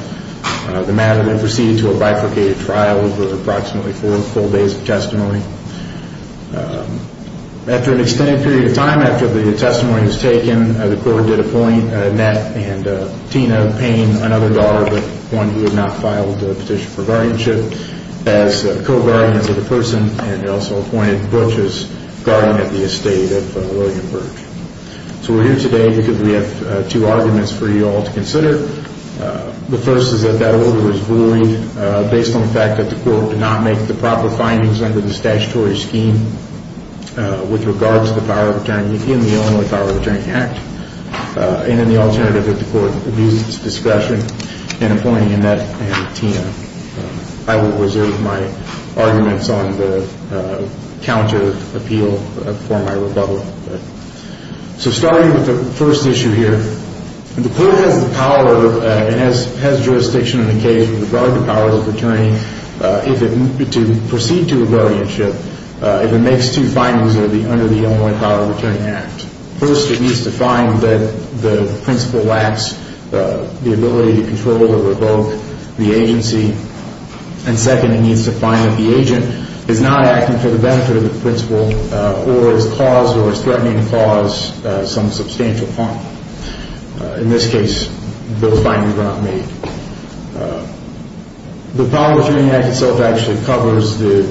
Is Henry Guardianship of Burdge?? Henry isBurdge Henrywarrior Henry vs. Burdge Henry vs. conten? Henry vs. Bun ge Barbarian Time to?? How to May??? First speech Client will receive of the motion of dismissal.???? Mr. So we're here today because we have two arguments for you all to consider. The first is that that order was violated based on the fact that the court did not make the proper findings under the statutory scheme with regards to the power of attorney in the Illinois Power of Attorney Act. And in the alternative, that the court abuses discretion in appointing Annette and Tina. I will reserve my arguments on the counter appeal for my rebuttal. So starting with the first issue here, the court has the power and has jurisdiction in the case with regard to powers of attorney to proceed to a guardianship if it makes two findings under the Illinois Power of Attorney Act. First, it needs to find that the principal lacks the ability to control or revoke the agency. And second, it needs to find that the agent is not acting for the benefit of the principal or has caused or is threatening to cause some substantial harm. In this case, those findings are not made. The Power of Attorney Act itself actually covers the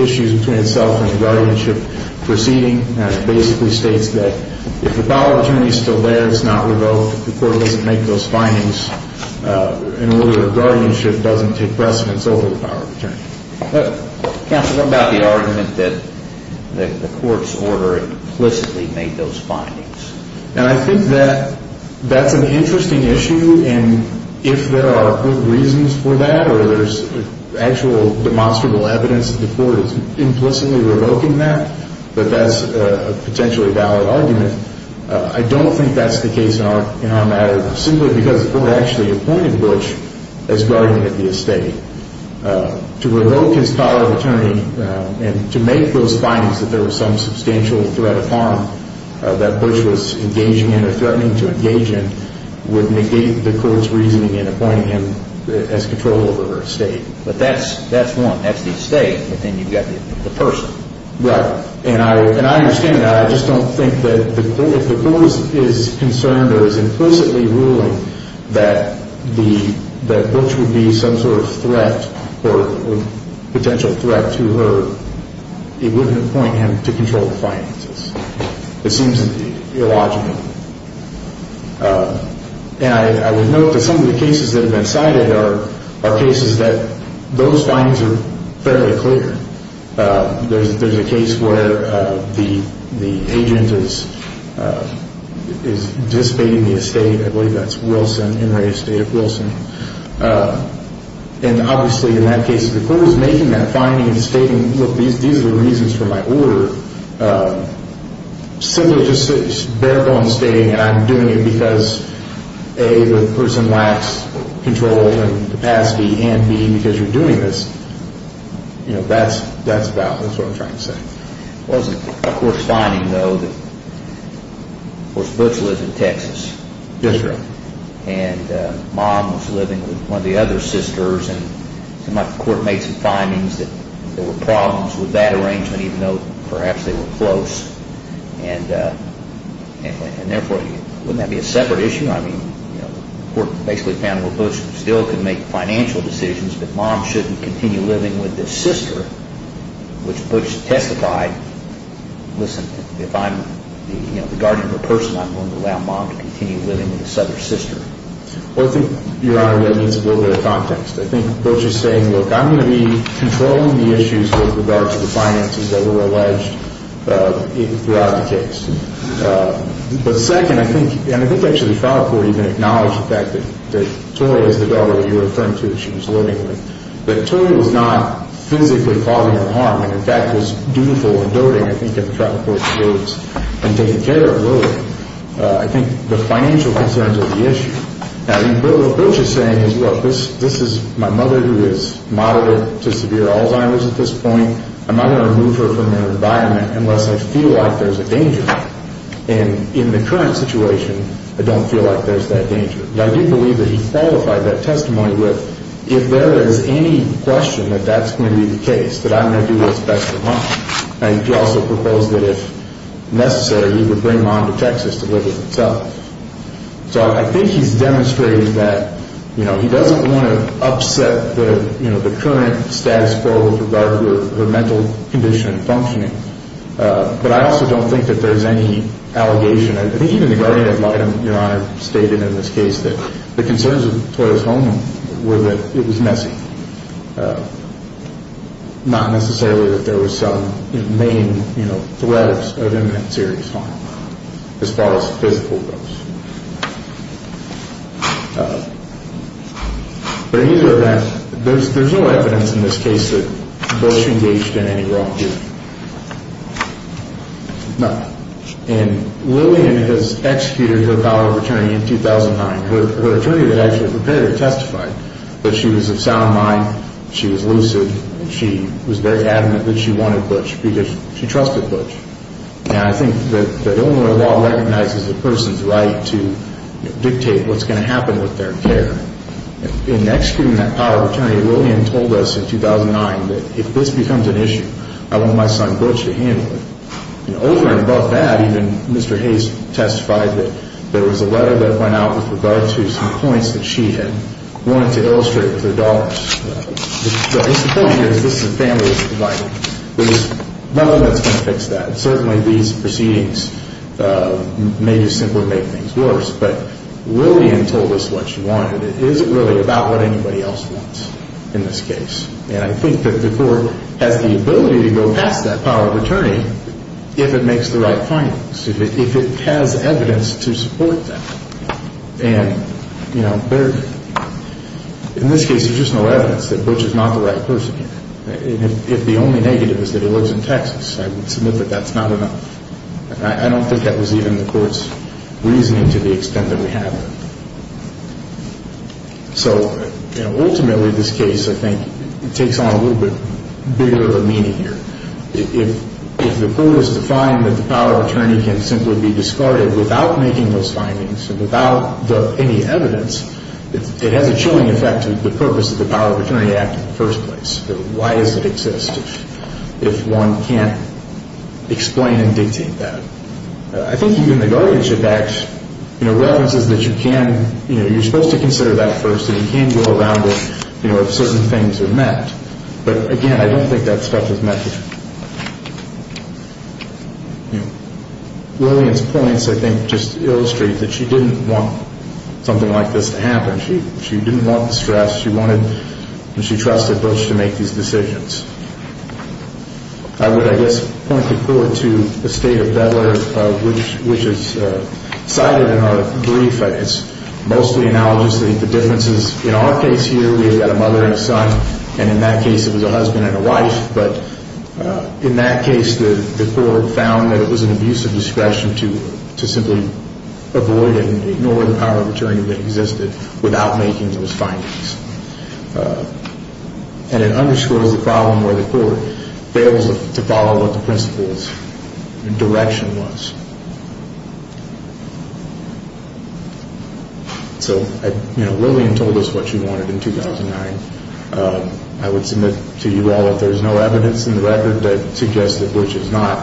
issues between itself and guardianship proceeding. And it basically states that if the power of attorney is still there, it's not revoked, the court doesn't make those findings in order that guardianship doesn't take precedence over the power of attorney. But... Counsel, what about the argument that the court's order implicitly made those findings? And I think that that's an interesting issue, and if there are good reasons for that or there's actual demonstrable evidence that the court is implicitly revoking that, but I don't think that's a potentially valid argument. I don't think that's the case in our matter, simply because the court actually appointed Butch as guardian of the estate. To revoke his power of attorney and to make those findings that there was some substantial threat of harm that Butch was engaging in or threatening to engage in would negate the court's reasoning in appointing him as control over her estate. But that's one. That's the estate, but then you've got the person. Right. And I understand that. I just don't think that if the court is concerned or is implicitly ruling that Butch would be some sort of threat or potential threat to her, it wouldn't appoint him to control the finances. It seems illogical. And I would note that some of the cases that have been cited are cases that those findings are fairly clear. There's a case where the agent is dissipating the estate. I believe that's Wilson, Enray Estate of Wilson. And obviously in that case, if the court is making that finding and stating, look, these are the reasons for my order, simply just bare bones stating that I'm doing it because A, the person lacks control and capacity, and B, because you're doing this. That's about it. That's what I'm trying to say. Well, is the court's finding, though, that, of course, Butch lives in Texas. Yes, sir. And mom was living with one of the other sisters. And the court made some findings that there were problems with that arrangement, even though perhaps they were close. And therefore, wouldn't that be a separate issue? I mean, the court basically found that Butch still can make financial decisions, but mom shouldn't continue living with this sister, which Butch testified, listen, if I'm the guardian of a person, I'm going to allow mom to continue living with this other sister. Well, I think, Your Honor, that needs a little bit of context. I think Butch is saying, look, I'm going to be controlling the issues with regard to the finances that were alleged throughout the case. But second, I think, and I think actually the trial court even acknowledged the fact that Tori is the daughter of your friend, too, that she was living with. But Tori was not physically causing her harm and, in fact, was dutiful and doting, I think, in the trial court's words, and taking care of Lily. I think the financial concerns are the issue. Now, what Butch is saying is, look, this is my mother, who is moderate to severe Alzheimer's at this point. I'm not going to remove her from the environment unless I feel like there's a danger. And in the current situation, I don't feel like there's that danger. I do believe that he qualified that testimony with, if there is any question that that's going to be the case, that I'm going to do what's best for mom. And he also proposed that if necessary, he would bring mom to Texas to live with himself. So I think he's demonstrating that, you know, he doesn't want to upset the, you know, the current status quo with regard to her mental condition functioning. But I also don't think that there's any allegation. I think even the guardian of your honor stated in this case that the concerns of Toyota's home were that it was messy. Not necessarily that there was some main, you know, threads of imminent serious harm, as far as physical goes. But either event, there's no evidence in this case that Butch engaged in any wrongdoing. No. And Lillian has executed her power of attorney in 2009. Her attorney had actually prepared to testify. But she was of sound mind. She was lucid. She was very adamant that she wanted Butch because she trusted Butch. And I think that Illinois law recognizes a person's right to dictate what's going to happen with their care. In executing that power of attorney, Lillian told us in 2009 that if this becomes an issue, I want my son Butch to handle it. You know, over and above that, even Mr. Hayes testified that there was a letter that went out with regard to some points that she had wanted to illustrate with her daughters. The point here is this is a family that's divided. There's nothing that's going to fix that. Certainly these proceedings may just simply make things worse. But Lillian told us what she wanted. It isn't really about what anybody else wants in this case. And I think that the court has the ability to go past that power of attorney if it makes the right findings, if it has evidence to support that. And, you know, in this case, there's just no evidence that Butch is not the right person. If the only negative is that he lives in Texas, I would submit that that's not enough. I don't think that was even the court's reasoning to the extent that we have it. So, you know, ultimately this case, I think, takes on a little bit bigger of a meaning here. If the court is to find that the power of attorney can simply be discarded without making those findings and without any evidence, it has a chilling effect to the purpose of the Power of Attorney Act in the first place. Why does it exist if one can't explain and dictate that? I think even the guardianship act, you know, references that you can, you know, you're supposed to consider that first and you can go around it, you know, if certain things are met. But, again, I don't think that stuff is met. Lillian's points, I think, just illustrate that she didn't want something like this to happen. She didn't want the stress. She wanted and she trusted Butch to make these decisions. I would, I guess, point the court to the State of Delaware which is cited in our brief. It's mostly analogous to the differences. In our case here, we've got a mother and a son. And in that case, it was a husband and a wife. But in that case, the court found that it was an abuse of discretion to simply avoid it and ignore the power of attorney that existed without making those findings. And it underscores the problem where the court fails to follow what the principle's direction was. So, you know, Lillian told us what she wanted in 2009. I would submit to you all if there's no evidence in the record that suggests that Butch is not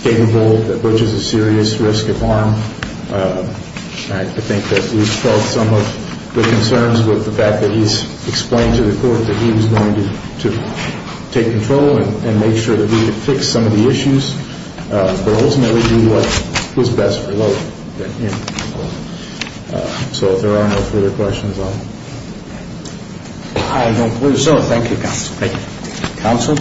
capable, that Butch is a serious risk of harm. I think that we've felt some of the concerns with the fact that he's explained to the court that he was going to take control and make sure that we could fix some of the issues but ultimately do what was best for Lillian. So if there are no further questions, I'll... I don't believe so. Thank you, counsel. Thank you. Counsel?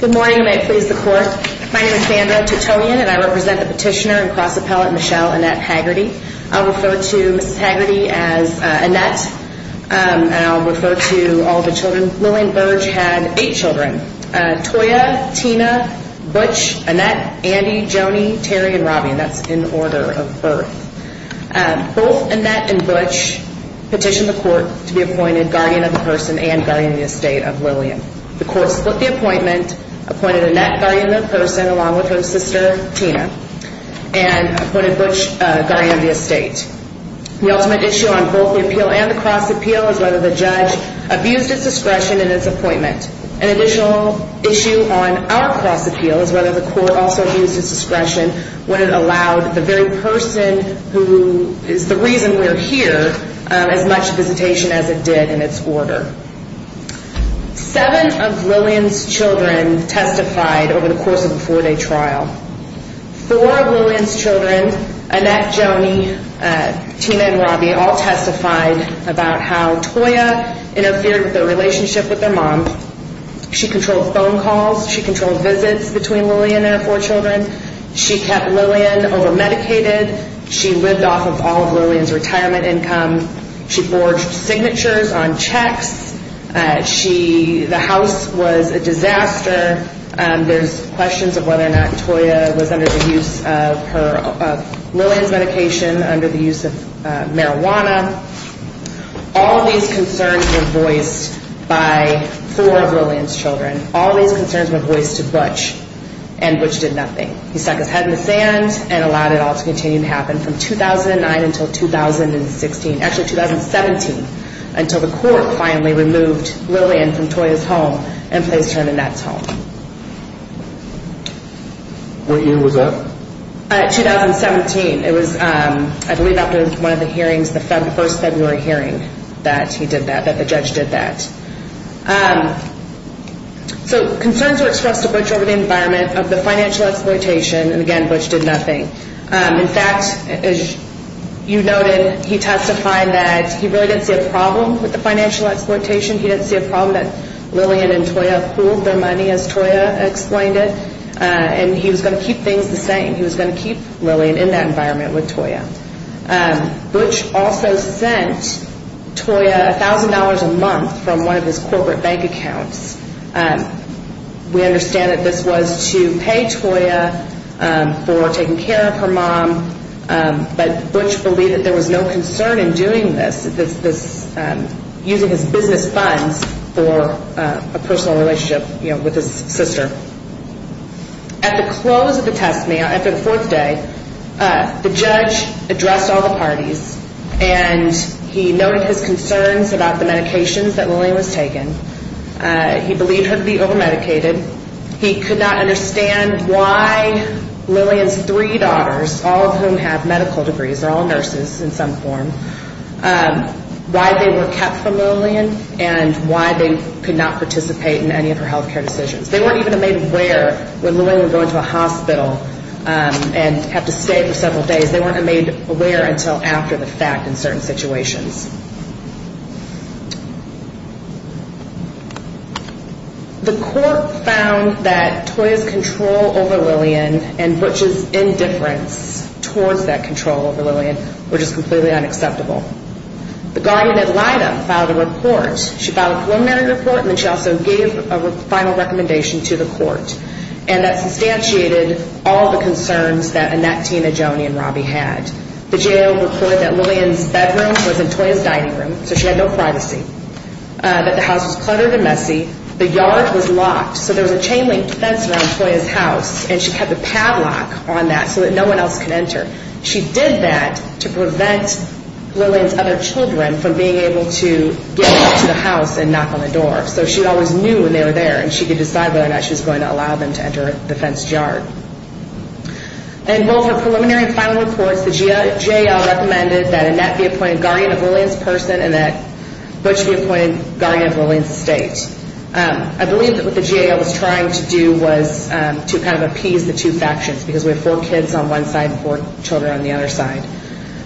Good morning, and may it please the court. My name is Sandra Titonian, and I represent the petitioner and cross appellate Michelle Annette Haggerty. I'll refer to Miss Haggerty as Annette, and I'll refer to all the children. Lillian Burge had eight children, Toya, Tina, Butch, Annette, Andy, Joni, Terry, and Robbie, and that's in order of birth. Both Annette and Butch petitioned the court to be appointed guardian of the person and guardian of the estate of Lillian. The court split the appointment, appointed Annette guardian of the person along with her sister, Tina, and appointed Butch guardian of the estate. The ultimate issue on both the appeal and the cross appeal is whether the judge abused his discretion in his appointment. An additional issue on our cross appeal is whether the court also abused his discretion when it allowed the very person who is the reason we're here as much visitation as it did in its order. Seven of Lillian's children testified over the course of a four-day trial. Four of Lillian's children, Annette, Joni, Tina, and Robbie, all testified about how Toya interfered with their relationship with their mom. She controlled phone calls. She controlled visits between Lillian and her four children. She kept Lillian over-medicated. She lived off of all of Lillian's retirement income. She forged signatures on checks. The house was a disaster. There's questions of whether or not Toya was under the use of Lillian's medication, under the use of marijuana. All these concerns were voiced by four of Lillian's children. All these concerns were voiced to Butch, and Butch did nothing. He stuck his head in the sand and allowed it all to continue to happen from 2009 until 2016, actually 2017, until the court finally removed Lillian from Toya's home and placed her in Annette's home. What year was that? 2017. It was, I believe, after one of the hearings, the first February hearing that he did that, that the judge did that. So concerns were expressed to Butch over the environment of the financial exploitation, and again, Butch did nothing. In fact, as you noted, with the financial exploitation. He didn't see a problem that Lillian and Toya pooled their money, as Toya explained it, and he was going to keep things the same. He was going to keep Lillian in that environment with Toya. Butch also sent Toya $1,000 a month from one of his corporate bank accounts. We understand that this was to pay Toya for taking care of her mom, but Butch believed that there was no concern in doing this, using his business funds for a personal relationship with his sister. At the close of the testimony, after the fourth day, the judge addressed all the parties, and he noted his concerns about the medications that Lillian was taking. He believed her to be over-medicated. He could not understand why Lillian's three daughters, all of whom have medical degrees, they're all nurses in some form, why they were kept from Lillian and why they could not participate in any of her health care decisions. They weren't even made aware when Lillian would go into a hospital and have to stay for several days. They weren't made aware until after the fact in certain situations. The court found that Toya's control over Lillian and Butch's indifference towards that control over Lillian were just completely unacceptable. The guardian at LIDA filed a report. She filed a preliminary report and then she also gave a final recommendation to the court and that substantiated all the concerns that Annette, Tina, Joni, and Robbie had. The jail reported that Lillian's bedroom was in Toya's dining room, so she had no privacy, that the house was cluttered and messy, the yard was locked, so there was a chain-link fence around Toya's house and she kept a padlock on that so that no one else could enter. She did that to prevent Lillian's other children from being able to get into the house and knock on the door. So she always knew when they were there and she could decide whether or not she was going to allow them to enter the fenced yard. In both her preliminary and final reports, the JAL recommended that Annette be appointed guardian of Lillian's person and that Butch be appointed guardian of Lillian's estate. I believe that what the JAL was trying to do was to kind of appease the two factions because we have four kids on one side and four children on the other side.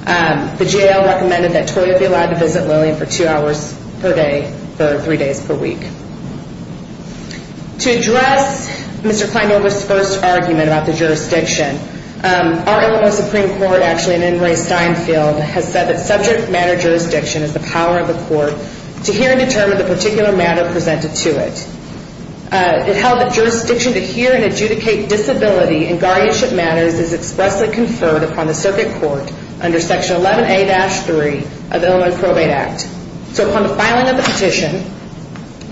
The JAL recommended that Toya be allowed to visit Lillian for two hours per day for three days per week. To address Mr. Kleinberg's first argument about the jurisdiction, our Illinois Supreme Court, actually, and then Ray Steinfeld, has said that subject matter jurisdiction is the power of the court to hear and determine the particular matter presented to it. It held that jurisdiction to hear and adjudicate disability in guardianship matters is expressly conferred upon the circuit court under Section 11A-3 of the Illinois Probate Act. So upon the filing of the petition,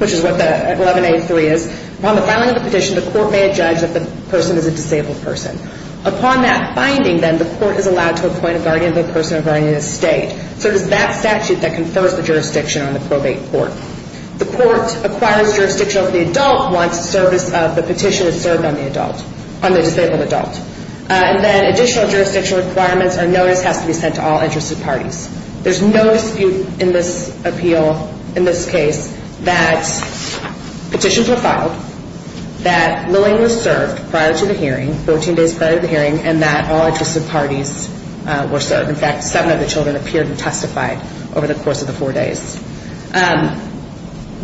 which is what 11A-3 is, the court may adjudge that the person is a disabled person. Upon that finding, then, the court is allowed to appoint a guardian of the person or guardian of the state. So it is that statute that confers the jurisdiction on the probate court. The court acquires jurisdiction over the adult once the petition is served on the disabled adult. Additional jurisdictional requirements or notice has to be sent to all interested parties. There's no dispute in this case that petitions were filed, that Lillian was served 14 days prior to the hearing, and that all interested parties were served. In fact, seven of the children appeared and testified over the course of the four days.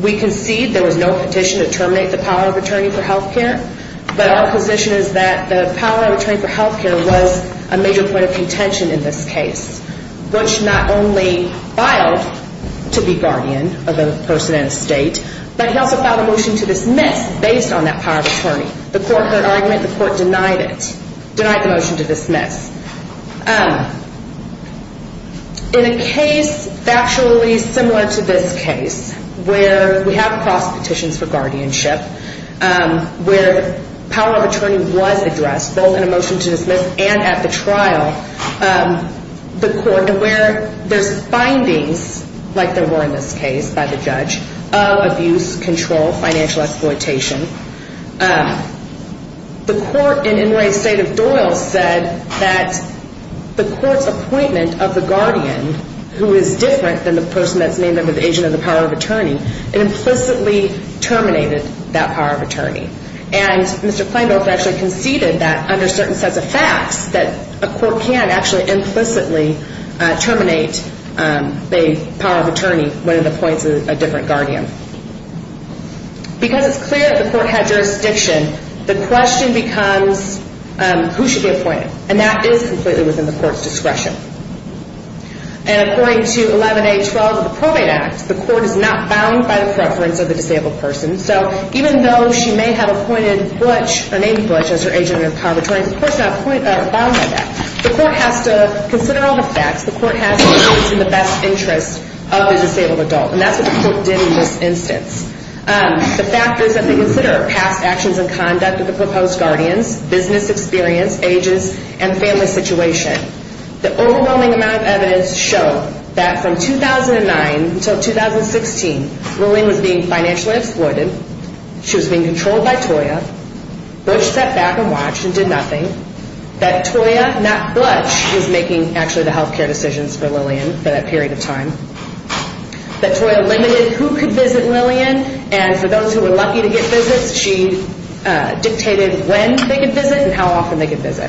We concede there was no petition to terminate the power of attorney for health care, but our position is that the power of attorney for health care was a major point of contention in this case, which not only filed to be guardian of a person in a state, but he also filed a motion to dismiss based on that power of attorney. The court heard argument, the court denied it, denied the motion to dismiss. In a case factually similar to this case, where we have cross petitions for guardianship, where the power of attorney was addressed, both in a motion to dismiss and at the trial, the court, where there's findings, like there were in this case, by the judge, of abuse, control, financial exploitation, the court in Inouye State of Doyle said that the court's appointment of the guardian, who is different than the person that's named under the agent of the power of attorney, it implicitly terminated that power of attorney. And Mr. Klainbother actually conceded that under certain sets of facts that a court can actually implicitly terminate the power of attorney when it appoints a different guardian. Because it's clear that the court had jurisdiction, the question becomes who should be appointed, and that is completely within the court's discretion. And according to 11A.12 of the Probate Act, the court is not bound by the preference of the disabled person, so even though she may have appointed Butch, or named Butch, as her agent of power of attorney, the court's not bound by that. The court has to consider all the facts, the court has to do what's in the best interest of the disabled adult, and that's what the court did in this instance. The fact is that they consider past actions and conduct of the proposed guardians, business experience, ages, and family situation. The overwhelming amount of evidence showed that from 2009 until 2016, Lillian was being financially exploited, she was being controlled by Toya, Butch stepped back and watched and did nothing, that Toya, not Butch, was making actually the health care decisions for Lillian for that period of time, that Toya limited who could visit Lillian, and for those who were lucky to get visits, she dictated when they could visit and how often they could visit.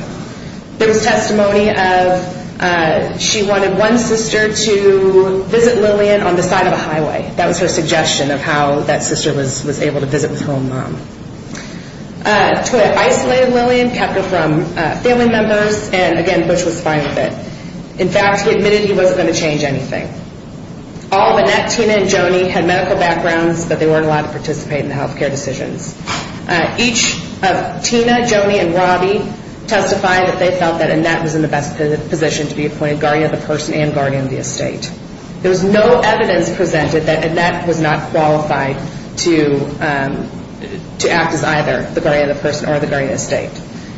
There was testimony of she wanted one sister to visit Lillian on the side of a highway. That was her suggestion of how that sister was able to visit with her own mom. Toya isolated Lillian, kept her from family members, and again, Butch was fine with it. In fact, he admitted he wasn't going to change anything. All of Annette, Tina, and Joni had medical backgrounds, but they weren't allowed to participate in the health care decisions. Each of Tina, Joni, and Robbie testified that they felt that Annette was in the best position to be appointed guardian of the person and guardian of the estate. There was no evidence presented that Annette was not qualified to act as either the guardian of the person or the guardian of the estate.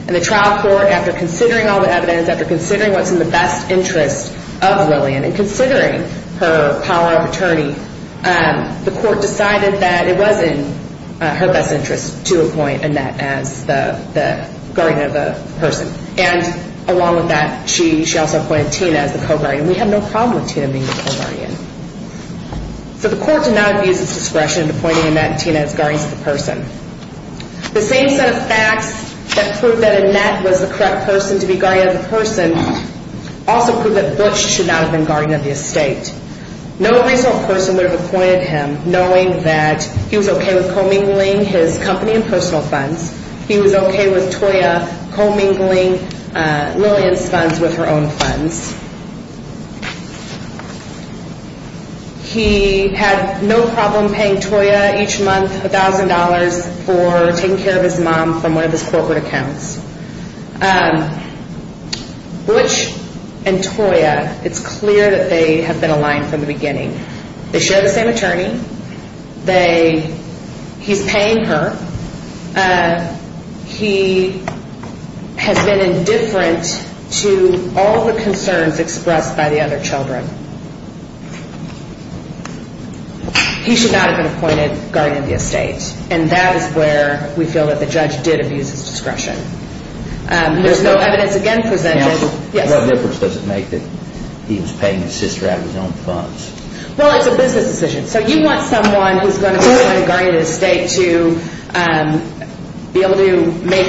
The trial court, after considering all the evidence, after considering what's in the best interest of Lillian, and considering her power of attorney, the court decided that it was in her best interest to appoint Annette as the guardian of the person. Along with that, she also appointed Tina as the co-guardian. We have no problem with Tina being the co-guardian. So the court did not abuse its discretion in appointing Annette and Tina as guardians of the person. The same set of facts that proved that Annette was the correct person to be guardian of the person also proved that Butch should not have been guardian of the estate. No reasonable person would have appointed him knowing that he was okay with commingling his company and personal funds, he was okay with Toya commingling Lillian's funds with her own funds. He had no problem paying Toya each month $1,000 for taking care of his mom from one of his corporate accounts. Butch and Toya, it's clear that they have been aligned from the beginning. They share the same attorney. He's paying her. He has been indifferent to all the concerns expressed by the other children. He should not have been appointed guardian of the estate. And that is where we feel that the judge did abuse his discretion. There's no evidence again presented What difference does it make that he was paying his sister out of his own funds? Well, it's a business decision. So you want someone who's going to be able to make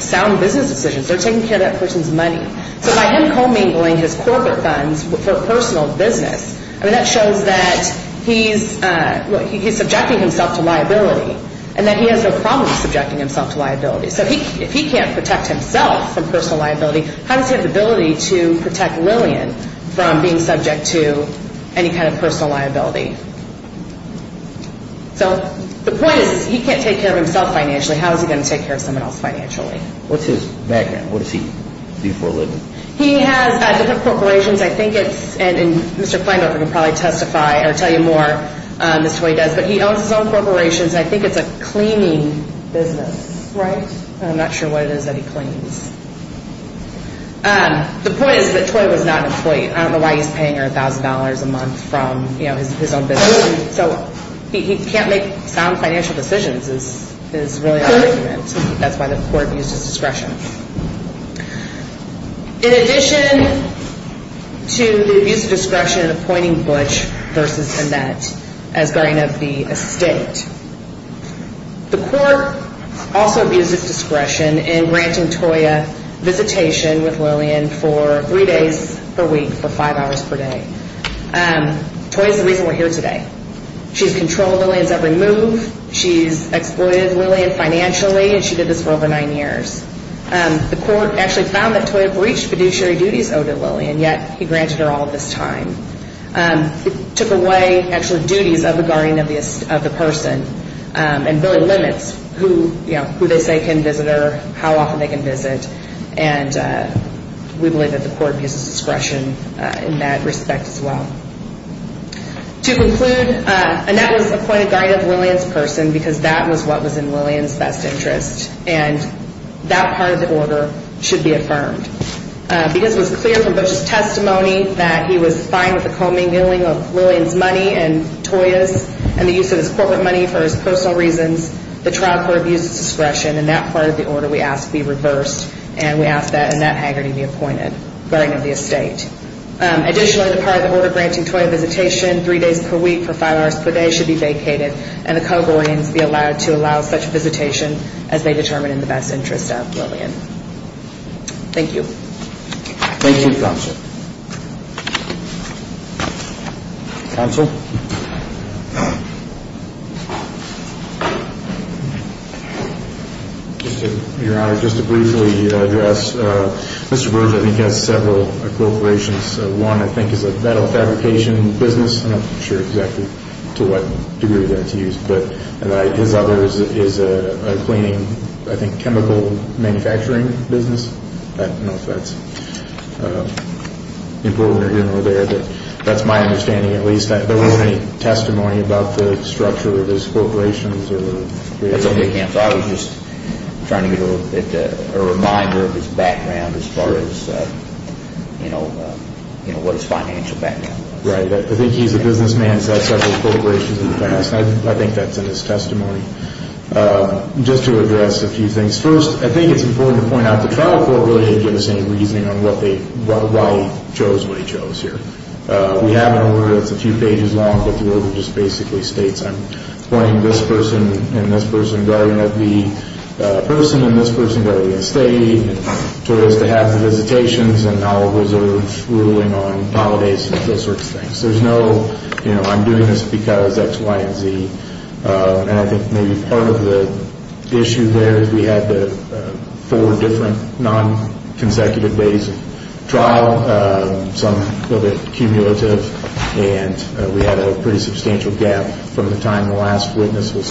sound business decisions. They're taking care of that person's money. So by him commingling his corporate funds for personal business, that shows that he's subjecting himself to liability and that he has no problem subjecting himself to liability. So if he can't protect himself from personal liability, how does he have the ability to protect Lillian from being subject to any kind of personal liability? So the point is he can't take care of himself financially. How is he going to take care of someone else financially? What's his background? What does he do for a living? He has different corporations. I think it's and Mr. Klineberg can probably testify or tell you more, but he owns his own corporations. I think it's a cleaning business. Right? I'm not sure what it is that he cleans. The point is that Toy was not employed. I don't know why he's paying her $50,000 a month from his own business. He can't make sound financial decisions is really our argument. That's why the court used his discretion. In addition to the use of discretion in appointing Butch versus Annette as guardian of the estate, the court also abused its discretion in granting Toy a visitation with Lillian for three days per week for five hours per day. Toy is the reason we're here today. She's controlled Lillian's every move. She's exploited Lillian financially and she did this for over nine years. The court actually found that Toy had breached fiduciary duties owed to Lillian yet he granted her all this time. It took away duties of the guardian of the person and really limits who they say can visit her, how often they can visit and we believe that the court abuses discretion in that respect as well. To conclude, Annette was appointed guardian of Lillian's person because that was what was in Lillian's best interest and that part of the order should be affirmed. Because it was clear from Butch's testimony that he was fine with the commingling of Lillian's money and Toy's and the use of his corporate money for his personal reasons, the trial court abused its discretion and that part of the order we ask be reversed and we ask that Annette Hagerty be appointed guardian of the estate. Additionally, the part of the order granting Toy a visitation three days per week for five hours per day should be vacated and the co-guardians be allowed to allow such visitation as they determine in the best interest of Lillian. Thank you. Thank you, Counsel. Counsel? Your Honor, just to briefly address, Mr. Burge I think has several corporations one I think is a metal fabrication business, I'm not sure exactly to what degree that's used, but his other is a cleaning, I think chemical manufacturing business I don't know if that's important or here or there but that's my understanding at least there wasn't any testimony about the structure of his corporations or That's okay, Counsel, I was just trying to get a little bit of a reminder of his background as far as you know what his financial background was. Right, I think he's a businessman, he's had several corporations in the past, I think that's in his testimony. Just to address a few things, first I think it's important to point out the trial court really didn't give us any reasoning on what they why he chose what he chose here. We have an order that's a few pages long, but the order just basically states I'm appointing this person and this person guardian of the person and this person guardian of the estate to have the visitations and I'll reserve ruling on holidays and those sorts of things. There's no, you know, I'm doing this because X, Y, and Z and I think maybe part of the issue there is we had the four different non consecutive days of trial some of it cumulative and we had a pretty substantial gap from the time the last witness was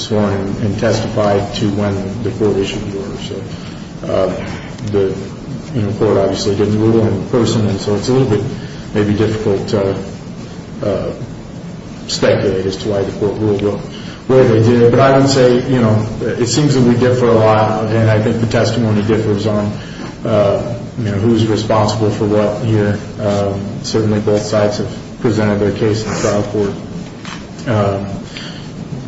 sworn and testified to when the court issued the order. The court obviously didn't rule on the person so it's a little bit maybe difficult to speculate as to why the court ruled where they did it, but I would say it seems that we differ a lot and I think the testimony differs on who's responsible for what here. Certainly both sides have presented their case in the trial court.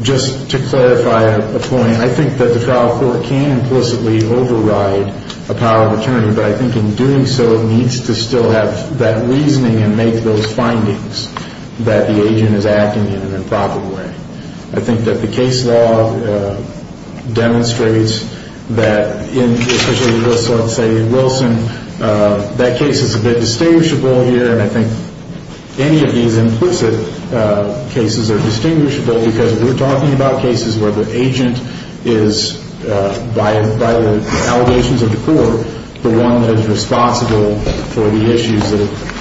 Just to clarify a point, I think that the trial court can implicitly override a power of attorney but I think in doing so it needs to still have that reasoning and make those findings that the I think that the case law demonstrates that especially in Wilson that case is a bit distinguishable here and I think any of these implicit cases are distinguishable because we're talking about cases where the agent is by the allegations of the court the one that is responsible for the issues that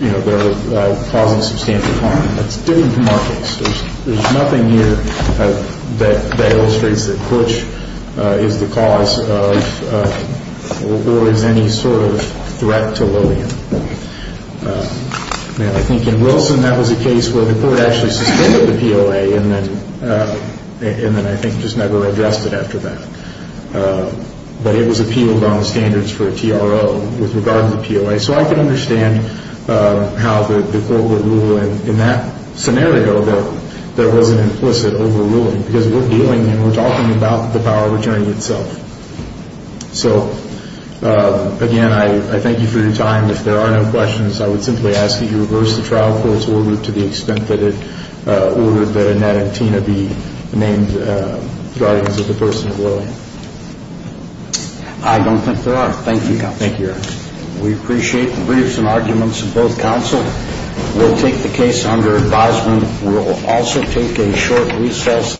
are causing substantial harm. That's different from our case. There's nothing here that illustrates that which is the cause of or is any sort of threat to Lillian. I think in Wilson that was a case where the court actually suspended the POA and then I think just never addressed it after that. But it was appealed on the standards for a TRO with regard to the POA so I can understand how the court would rule in that scenario that there was an implicit overruling because we're dealing and we're talking about the power of attorney itself. So again I thank you for your time. If there are no questions I would simply ask that you reverse the trial court's order to the extent that it or that Nat and Tina be named guardians of the person of Lillian. I don't think there are. Thank you. We appreciate the briefs and arguments of both counsel. We'll take the case under advisement. We'll also take a short recess.